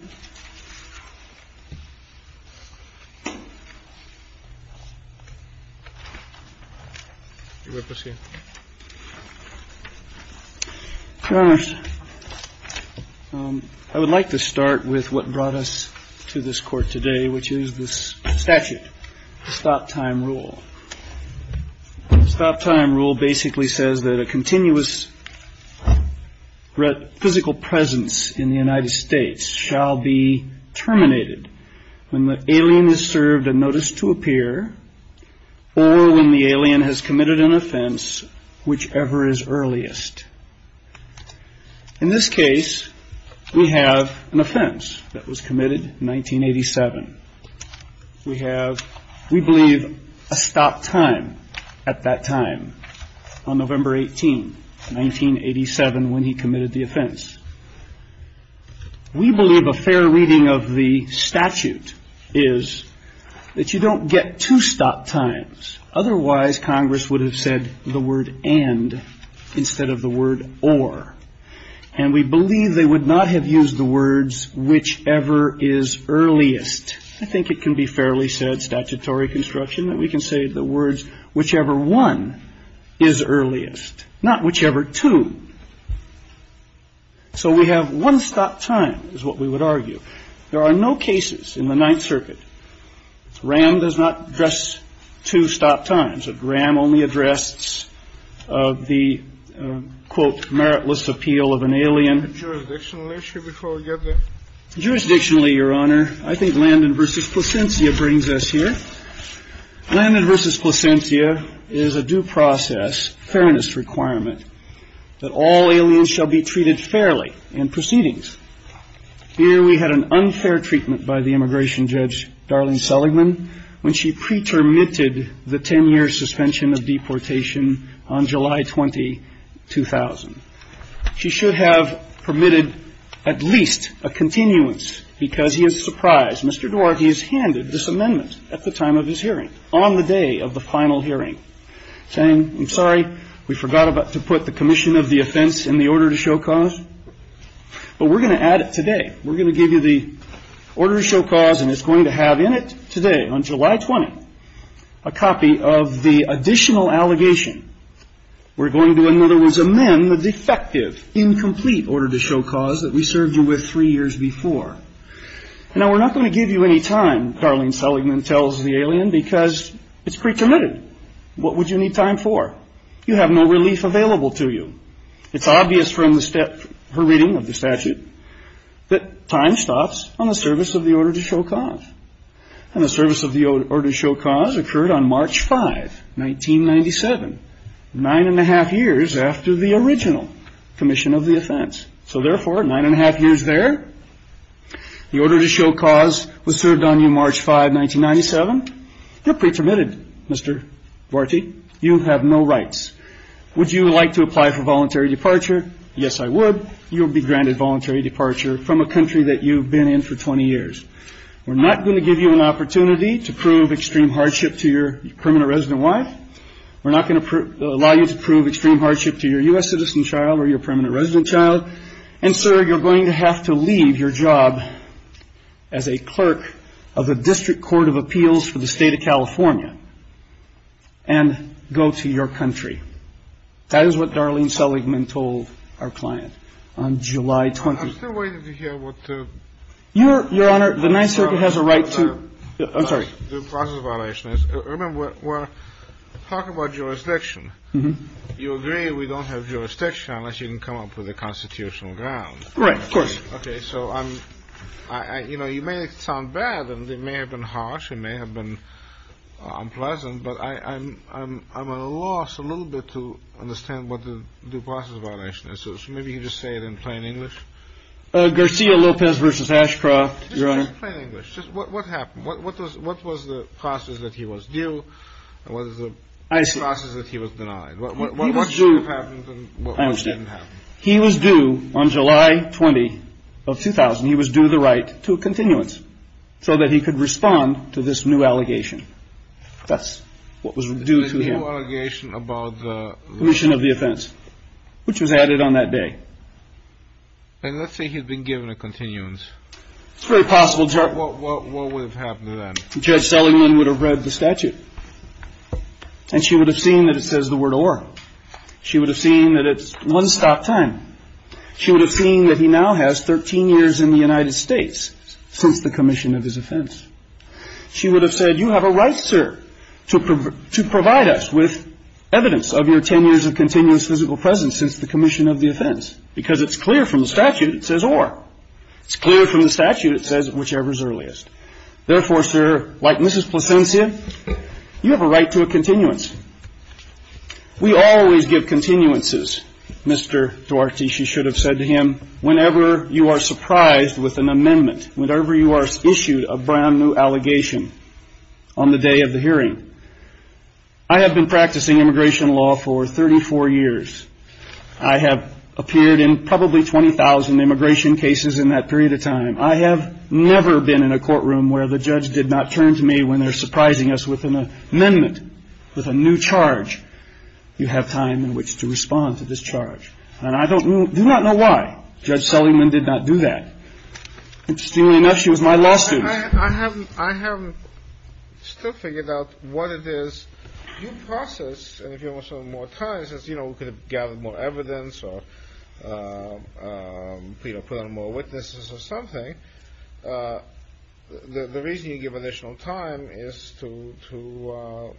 Your Honor, I would like to start with what brought us to this Court today, which is this statute, the stop-time rule. The stop-time rule basically says that a continuous physical presence in the United States shall be terminated when the alien is served a notice to appear or when the alien has committed an offense, whichever is earliest. In this case, we have an offense that was committed in 1987. We have, we believe, a stop-time at that time on November 18, 1987, when he committed the offense. We believe a fair reading of the statute is that you don't get two stop times. Otherwise, Congress would have said the word and instead of the word or. And we believe they would not have used the words whichever is earliest. I think it can be fairly said, statutory construction, that we can say the word one is earliest, not whichever two. So we have one stop time, is what we would argue. There are no cases in the Ninth Circuit. RAM does not address two stop times. RAM only addresses the, quote, meritless appeal of an alien. JUROR 1 Jurisdictionally, should we probably get there? JUROR 2 Jurisdictionally, Your Honor, I think Landon v. Placentia brings us here. Landon v. Placentia is a due process fairness requirement that all aliens shall be treated fairly in proceedings. Here we had an unfair treatment by the immigration judge, Darlene Seligman, when she pre-termitted the ten-year suspension of deportation on July 20, 2000. She should have permitted at least a continuance because he is surprised. Mr. Dworky has handed this amendment at the time of his hearing, on the day of the final hearing, saying, I'm sorry, we forgot to put the commission of the offense in the order to show cause. But we're going to add it today. We're going to give you the order to show cause, and it's going to have in it today, on July 20, a copy of the additional allegation. We're going to, in other words, amend the defective, incomplete order to show cause that we served you with three years before. Now, we're not going to give you any time, Darlene Seligman tells the alien, because it's pre-termitted. What would you need time for? You have no relief available to you. It's obvious from the reading of the statute that time stops on the service of the order to show cause. And the service of the order to show cause occurred on March 5, 1997, nine and a half years after the original commission of the offense. So therefore, nine and a half years there, the order to show cause was served on you March 5, 1997. You're pre-termitted, Mr. Dworky. You have no rights. Would you like to apply for voluntary departure? Yes, I would. You'll be granted voluntary departure from a country that you've been in for 20 years. We're not going to give you an opportunity to prove extreme hardship to your permanent resident wife. We're not going to allow you to prove extreme hardship to your U.S. citizen child or your permanent resident child. And, sir, you're going to have to leave your job as a clerk of the District Court of Appeals for the State of California and go to your country. That is what Darlene Seligman told our client on July 20th. I'm still waiting to hear what the process of violation is. Remember, we're talking about jurisdiction. You agree we don't have jurisdiction unless you can come up with a constitutional ground. Right, of course. Okay, so I'm, you know, you may sound bad and it may have been harsh and may have been unpleasant, but I'm at a loss a little bit to understand what you're saying. You just say it in plain English. Garcia Lopez versus Ashcroft. Just plain English. What happened? What was the process that he was due? And what is the process that he was denied? What should have happened and what didn't happen? I understand. He was due on July 20 of 2000. He was due the right to a continuance so that he could respond to this new allegation. That's what was due to him. The new allegation about the... Commission of the offense, which was added on that day. And let's say he'd been given a continuance. It's very possible. What would have happened then? Judge Seligman would have read the statute and she would have seen that it says the word or. She would have seen that it's one stock time. She would have seen that he now has 13 years in the United States since the commission of his offense. She would have said, you have a right, sir, to provide us with evidence of your 10 years of continuous physical presence since the commission of the offense. Because it's clear from the statute, it says or. It's clear from the statute, it says whichever is earliest. Therefore, sir, like Mrs. Placencia, you have a right to a continuance. We always give continuances, Mr. Duarte. She should have said to him, whenever you are surprised with an amendment, whenever you are issued a brand new allegation on the day of the hearing. I have been practicing immigration law for 34 years. I have appeared in probably 20,000 immigration cases in that period of time. I have never been in a courtroom where the judge did not turn to me when they're surprising us with an amendment, with a new charge. You have time in which to respond to this charge. And I do not know why Judge Seligman did not do that. Interestingly enough, she was my law student. I haven't, I haven't still figured out what it is you process. And if you want some more time, since, you know, we could have gathered more evidence or, you know, put on more witnesses or something. The reason you give additional time is to, to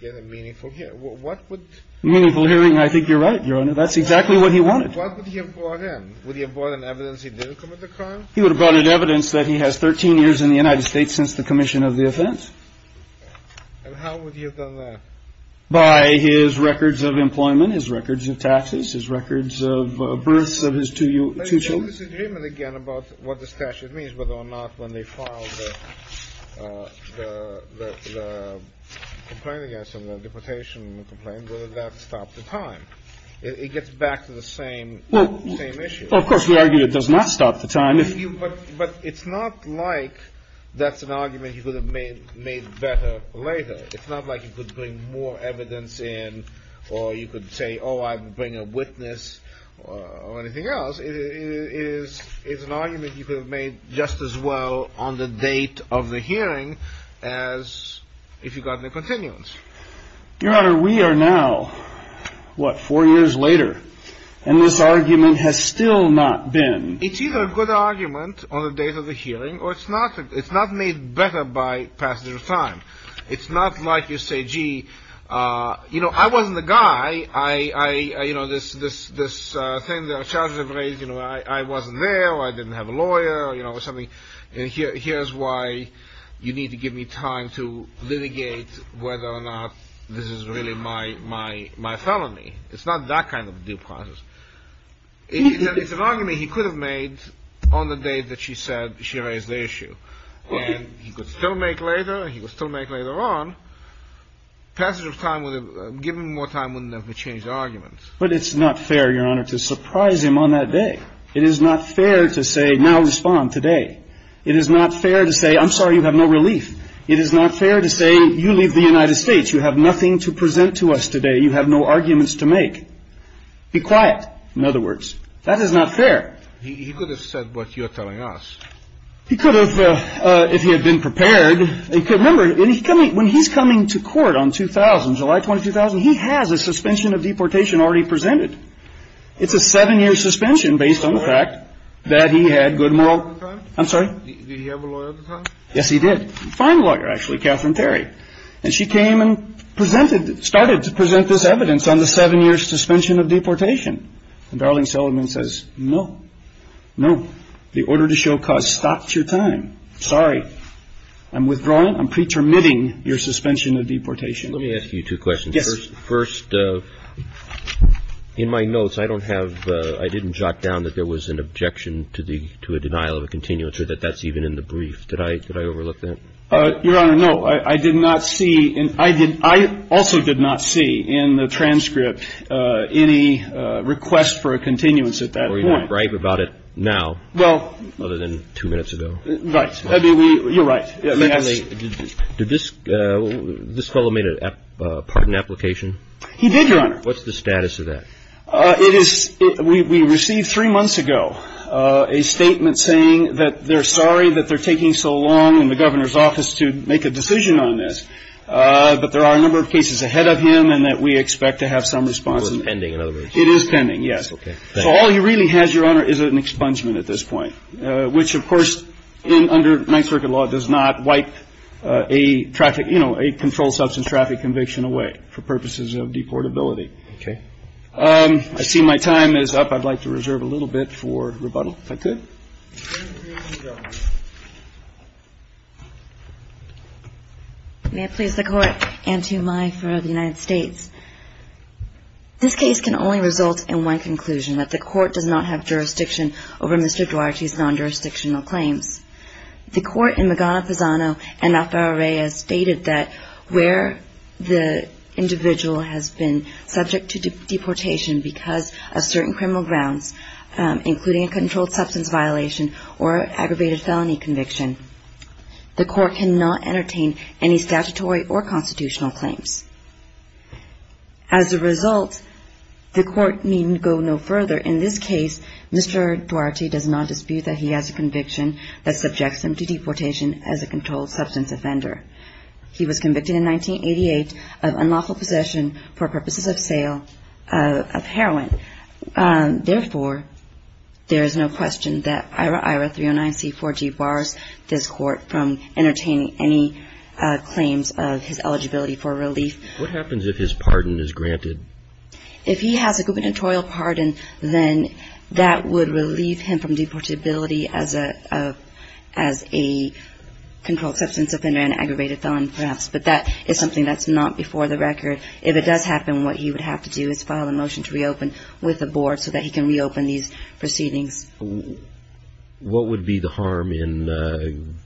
get a meaningful hearing. What would. Meaningful hearing. I think you're right, Your Honor. That's exactly what he wanted. What would he have brought in? Would he have brought in evidence he didn't commit the crime? He would have brought in evidence that he has 13 years in the United States since the commission of the offense. And how would you have done that? By his records of employment, his records of taxes, his records of births of his two children. Let's get this agreement again about what the statute means, whether or not when they file the, the, the complaint against him, the deportation complaint, whether that stopped the time. It gets back to the same issue. Well, of course we argued it does not stop the time. But it's not like that's an argument you could have made, made better later. It's not like you could bring more evidence in or you could say, Oh, I will bring a witness or anything else. It is, it's an argument you could have made just as well on the date of the hearing as if you've got the continence. Your Honor, we are now, what, four years later and this argument has still not been. It's either a good argument on the date of the hearing or it's not, it's not made better by passage of time. It's not like you say, gee, uh, you know, I wasn't the guy. I, I, you know, this, this, this, uh, thing that our charges have raised, you know, I, I wasn't there. I didn't have a lawyer, you know, or something. And here, here's why you need to give me time to litigate whether or not this is really my, my, my felony. It's not that kind of due process. It's an argument he could have made on the day that she said she raised the issue. And he could still make later, he could still make later on. Passage of time would have, given more time wouldn't have changed the argument. But it's not fair, Your Honor, to surprise him on that day. It is not fair to say, now you have no relief. It is not fair to say, you leave the United States. You have nothing to present to us today. You have no arguments to make. Be quiet. In other words, that is not fair. He, he could have said what you're telling us. He could have, uh, uh, if he had been prepared. Remember, when he's coming, when he's coming to court on 2000, July 22,000, he has a suspension of deportation already presented. It's a seven year suspension based on the fact that he had good moral. Did he have a lawyer at the time? I'm sorry? Yes, he did. A fine lawyer, actually, Katherine Perry. And she came and presented, started to present this evidence on the seven year suspension of deportation. And Darlene Sullivan says, no, no. The order to show cause stops your time. Sorry. I'm withdrawing. I'm pretermitting your suspension of deportation. Let me ask you two questions. Yes. First, uh, in my notes, I don't have, uh, I didn't jot down that there was an objection to the, to a denial of a continuance or that that's even in the brief. Did I, did I overlook that? Uh, Your Honor, no, I, I did not see, and I did, I also did not see in the transcript, uh, any, uh, request for a continuance at that point. Or you're not right about it now? Well. Other than two minutes ago. Right. I mean, we, you're right. Secondly, did this, uh, this fellow made a pardon application? He did, Your Honor. What's the status of that? Uh, it is, it, we, we received three months ago, uh, a statement saying that they're sorry that they're taking so long in the governor's office to make a decision on this. Uh, but there are a number of cases ahead of him and that we expect to have some response. So it's pending, in other words? It is pending, yes. Okay. So all he really has, Your Honor, is an expungement at this point, uh, which of course, in, under my circuit law, does not wipe, uh, a traffic, you know, a controlled substance traffic conviction away for purposes of deportability. Okay. Um, I see my time is up. I'd like to reserve a little bit for rebuttal. If I could? May it please the Court and to my friend of the United States. This case can only result in one conclusion, that the Court does not have jurisdiction over Mr. Duarte's non-jurisdictional claims. The Court in Magana-Posano and Alfaro-Reyes stated that where the individual has been subject to deportation because of certain criminal grounds, um, including a controlled substance violation or aggravated felony conviction, the Court cannot entertain any statutory or constitutional claims. As a result, the Court needn't go no further. In this case, Mr. Duarte does not dispute that he has a conviction that subjects him to deportation as a controlled substance offender. He was convicted in 1988 of unlawful possession for purposes of sale of heroin. Um, therefore, there is no question that IRA-IRA 309C4G bars this Court from entertaining any claims of his eligibility for relief. What happens if his pardon is granted? If he has a gubernatorial pardon, then that would relieve him from deportability as a controlled substance offender and aggravated felon, perhaps. But that is something that's not before the record. If it does happen, what he would have to do is file a motion to reopen with the Board so that he can reopen these proceedings. What would be the harm in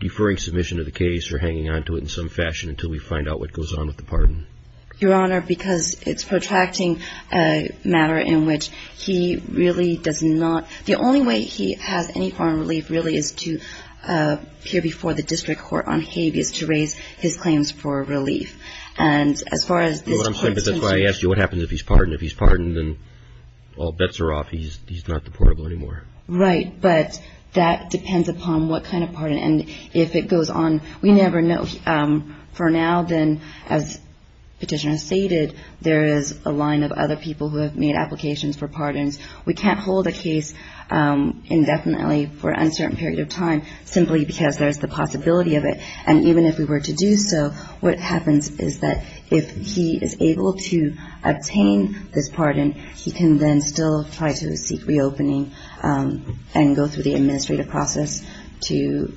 deferring submission of the case or hanging on to it in some fashion until we find out what goes on with the pardon? Your Honor, because it's protracting a matter in which he really does not, the only way he has any form of relief really is to appear before the District Court on habeas to raise his claims for relief. And as far as this Court's concern... That's why I asked you what happens if he's pardoned. If he's pardoned, then all bets are off. He's not deportable anymore. Right. But that depends upon what kind of pardon. And if it goes on, we never know. For now, then, as Petitioner has stated, there is a line of other people who have made applications for pardons. We can't hold a case indefinitely for an uncertain period of time simply because there's the possibility of it. And even if we were to do so, what happens is that if he is able to obtain this pardon, he can then still try to seek reopening and go through the administrative process to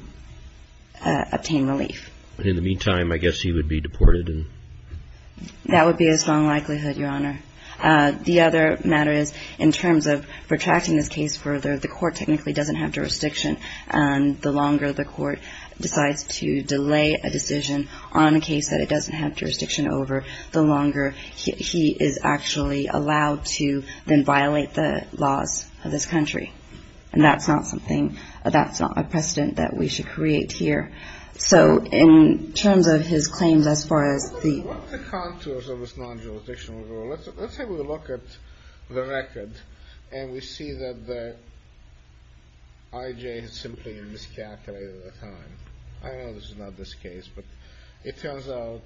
obtain relief. In the meantime, I guess he would be deported and... That would be a strong likelihood, Your Honor. The other matter is, in terms of protracting this case further, the Court technically doesn't have jurisdiction. And the longer the Court decides to delay a decision on a case that it doesn't have jurisdiction over, the longer he is actually allowed to then violate the laws of this country. And that's not something, that's not a precedent that we should create here. So in terms of his claims as far as the... Let's say we look at the record and we see that the I.J. has simply miscalculated the time. I know this is not this case, but it turns out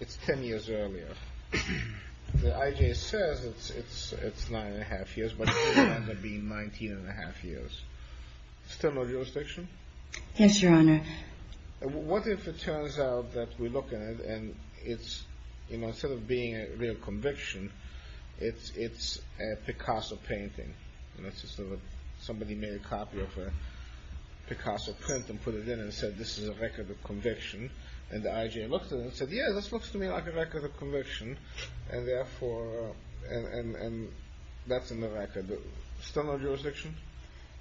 it's ten years earlier. The I.J. says it's nine and a half years, but it turns out to be 19 and a half years. Still no jurisdiction? Yes, Your Honor. What if it turns out that we look at it and it's, you know, instead of being a real conviction, it's a Picasso painting? Somebody made a copy of a Picasso print and put it in and said, this is a record of conviction. And the I.J. looked at it and said, yeah, this looks to me like a record of conviction. And therefore, that's in the record. Still no jurisdiction?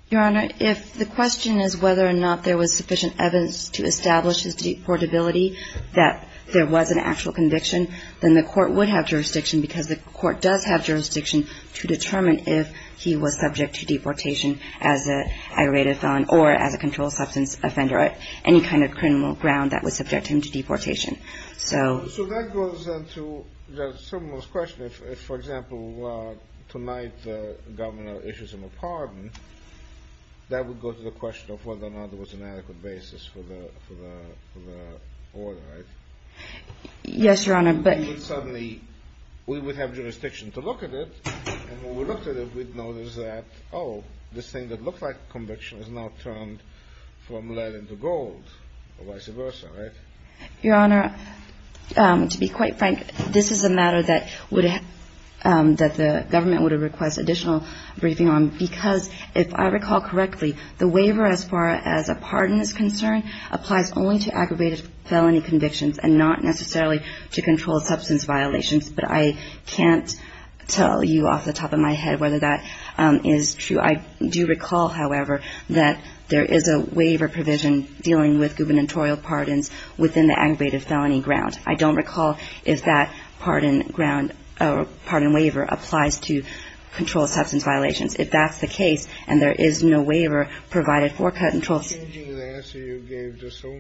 Your Honor, if the question is whether or not there was sufficient evidence to establish his deportability, that there was an actual conviction, then the court would have jurisdiction because the court does have jurisdiction to determine if he was subject to deportation as an aggravated felon or as a controlled substance offender or any kind of criminal ground that would subject him to deportation. So that goes into someone's question. If, for example, tonight the governor issues him a pardon, that would go to the question of whether or not there was an adequate basis for the order, right? Yes, Your Honor. Suddenly, we would have jurisdiction to look at it. And when we looked at it, we'd notice that, oh, this thing that looked like conviction is now turned from lead into gold or vice versa, right? Your Honor, to be quite frank, this is a matter that the government would request additional briefing on because if I recall correctly, the waiver as far as a pardon is concerned applies only to aggravated felony convictions and not necessarily to controlled substance violations. But I can't tell you off the top of my head whether that is true. I do recall, however, that there is a waiver provision dealing with gubernatorial pardons within the aggravated felony ground. I don't recall if that pardon ground or pardon waiver applies to controlled substance violations. If that's the case and there is no waiver provided for controlled ---- Are you changing the answer you gave just so?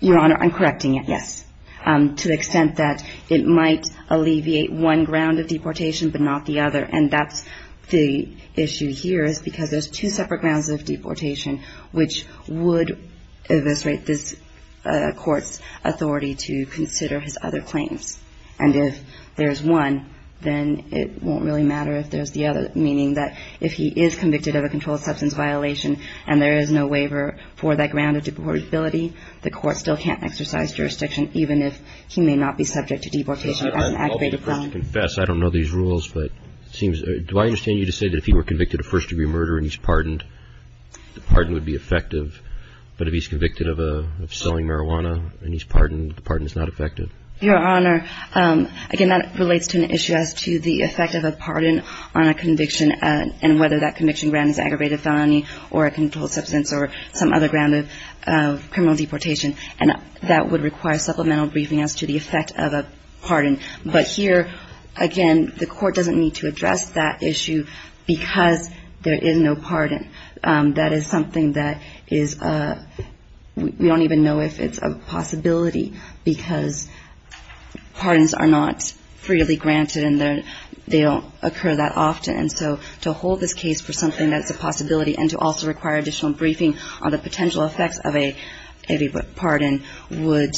Your Honor, I'm correcting it, yes. To the extent that it might alleviate one ground of deportation but not the other. And that's the issue here is because there's two separate grounds of deportation which would eviscerate this Court's authority to consider his other claims. And if there's one, then it won't really matter if there's the other, meaning that if he is convicted of a controlled substance violation and there is no waiver for that ground of deportability, the Court still can't exercise jurisdiction even if he may not be subject to deportation as an aggravated felony. I don't know these rules, but it seems ---- Do I understand you to say that if he were convicted of first-degree murder and he's pardoned, the pardon would be effective? But if he's convicted of selling marijuana and he's pardoned, the pardon is not effective? Your Honor, again, that relates to an issue as to the effect of a pardon on a conviction and whether that conviction ground is aggravated felony or a controlled substance or some other ground of criminal deportation. And that would require supplemental briefing as to the effect of a pardon. But here, again, the Court doesn't need to address that issue because there is no pardon. That is something that is a ---- We don't even know if it's a possibility because pardons are not freely granted and they don't occur that often. And so to hold this case for something that's a possibility and to also require additional briefing on the potential effects of a pardon would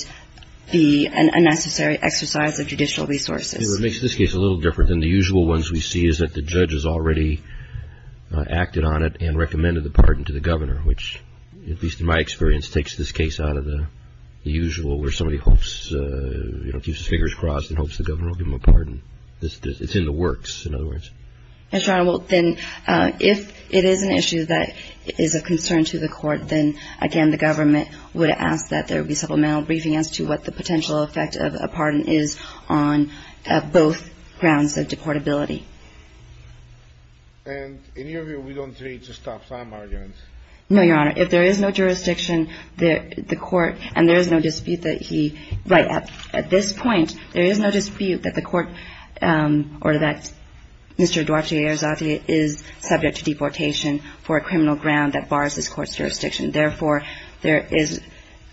be a necessary exercise of judicial resources. It makes this case a little different than the usual ones we see is that the judge has already acted on it and recommended the pardon to the governor, which, at least in my experience, takes this case out of the usual where somebody hopes, you know, keeps his fingers crossed and hopes the governor will give him a pardon. It's in the works, in other words. Your Honor, well, then if it is an issue that is of concern to the Court, then, again, the government would ask that there be supplemental briefing as to what the potential effect of a pardon is on both grounds of deportability. And in your view, we don't need to stop some arguments. No, Your Honor. If there is no jurisdiction, the Court, and there is no dispute that he ---- Right. At this point, there is no dispute that the Court or that Mr. Duarte Arrizate is subject to deportation for a criminal ground that bars this Court's jurisdiction. Therefore, there is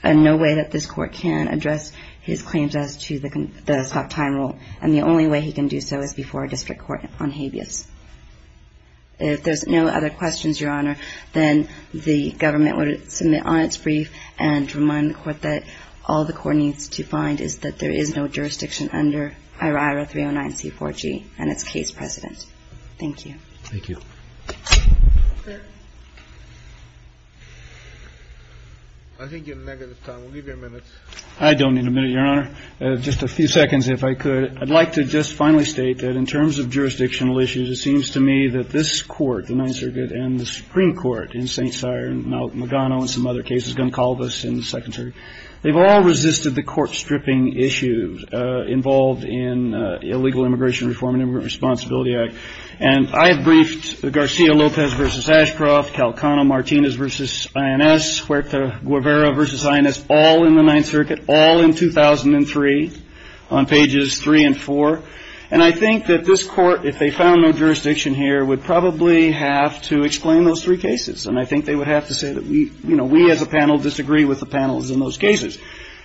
no way that this Court can address his claims as to the stop time rule. And the only way he can do so is before a district court on habeas. If there's no other questions, Your Honor, then the government would submit on its brief and remind the Court that all the Court needs to find is that there is no jurisdiction under IRIRA 309C4G and its case precedent. Thank you. Thank you. I think you're negative, Tom. We'll give you a minute. I don't need a minute, Your Honor. Just a few seconds, if I could. I'd like to just finally state that in terms of jurisdictional issues, it seems to me that this Court, the Ninth Circuit and the Supreme Court in St. Cyr and now Magano and some other cases, Goncalves in the Second Circuit, they've all resisted the court-stripping issues involved in Illegal Immigration Reform and Immigrant Responsibility Act. And I have briefed Garcia-Lopez v. Ashcroft, Calcano-Martinez v. INS, Huerta-Guevara v. INS, all in the Ninth Circuit, all in 2003 on pages 3 and 4. And I think that this Court, if they found no jurisdiction here, would probably have to explain those three cases. And I think they would have to say that we, you know, we as a panel disagree with the panels in those cases.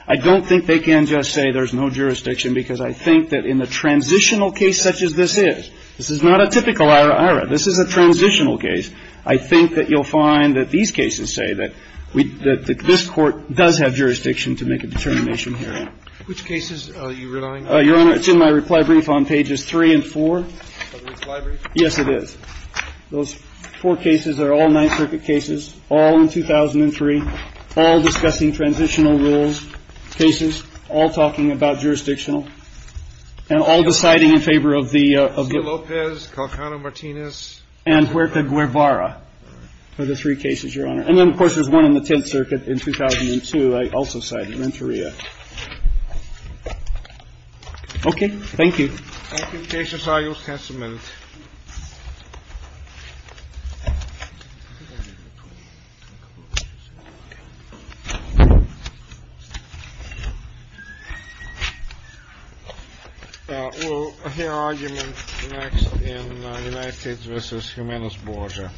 I don't think they can just say there's no jurisdiction because I think that in the transitional case such as this is, this is not a typical IRIRA. This is a transitional case. I think that you'll find that these cases say that we, that this Court does have jurisdiction to make a determination here. Which cases are you relying on? Your Honor, it's in my reply brief on pages 3 and 4. It's in the reply brief? Yes, it is. Those four cases are all Ninth Circuit cases, all in 2003, all discussing transitional rules cases, all talking about jurisdictional, and all deciding in favor of the, of the. Garcia-Lopez, Calcano-Martinez. And Huerta-Guevara are the three cases, Your Honor. And then, of course, there's one in the Tenth Circuit in 2002 I also cited, Renteria. Okay. Thank you. Thank you. Cases are just a minute. We'll hear argument next in United States v. Jimenez Borja, Borja.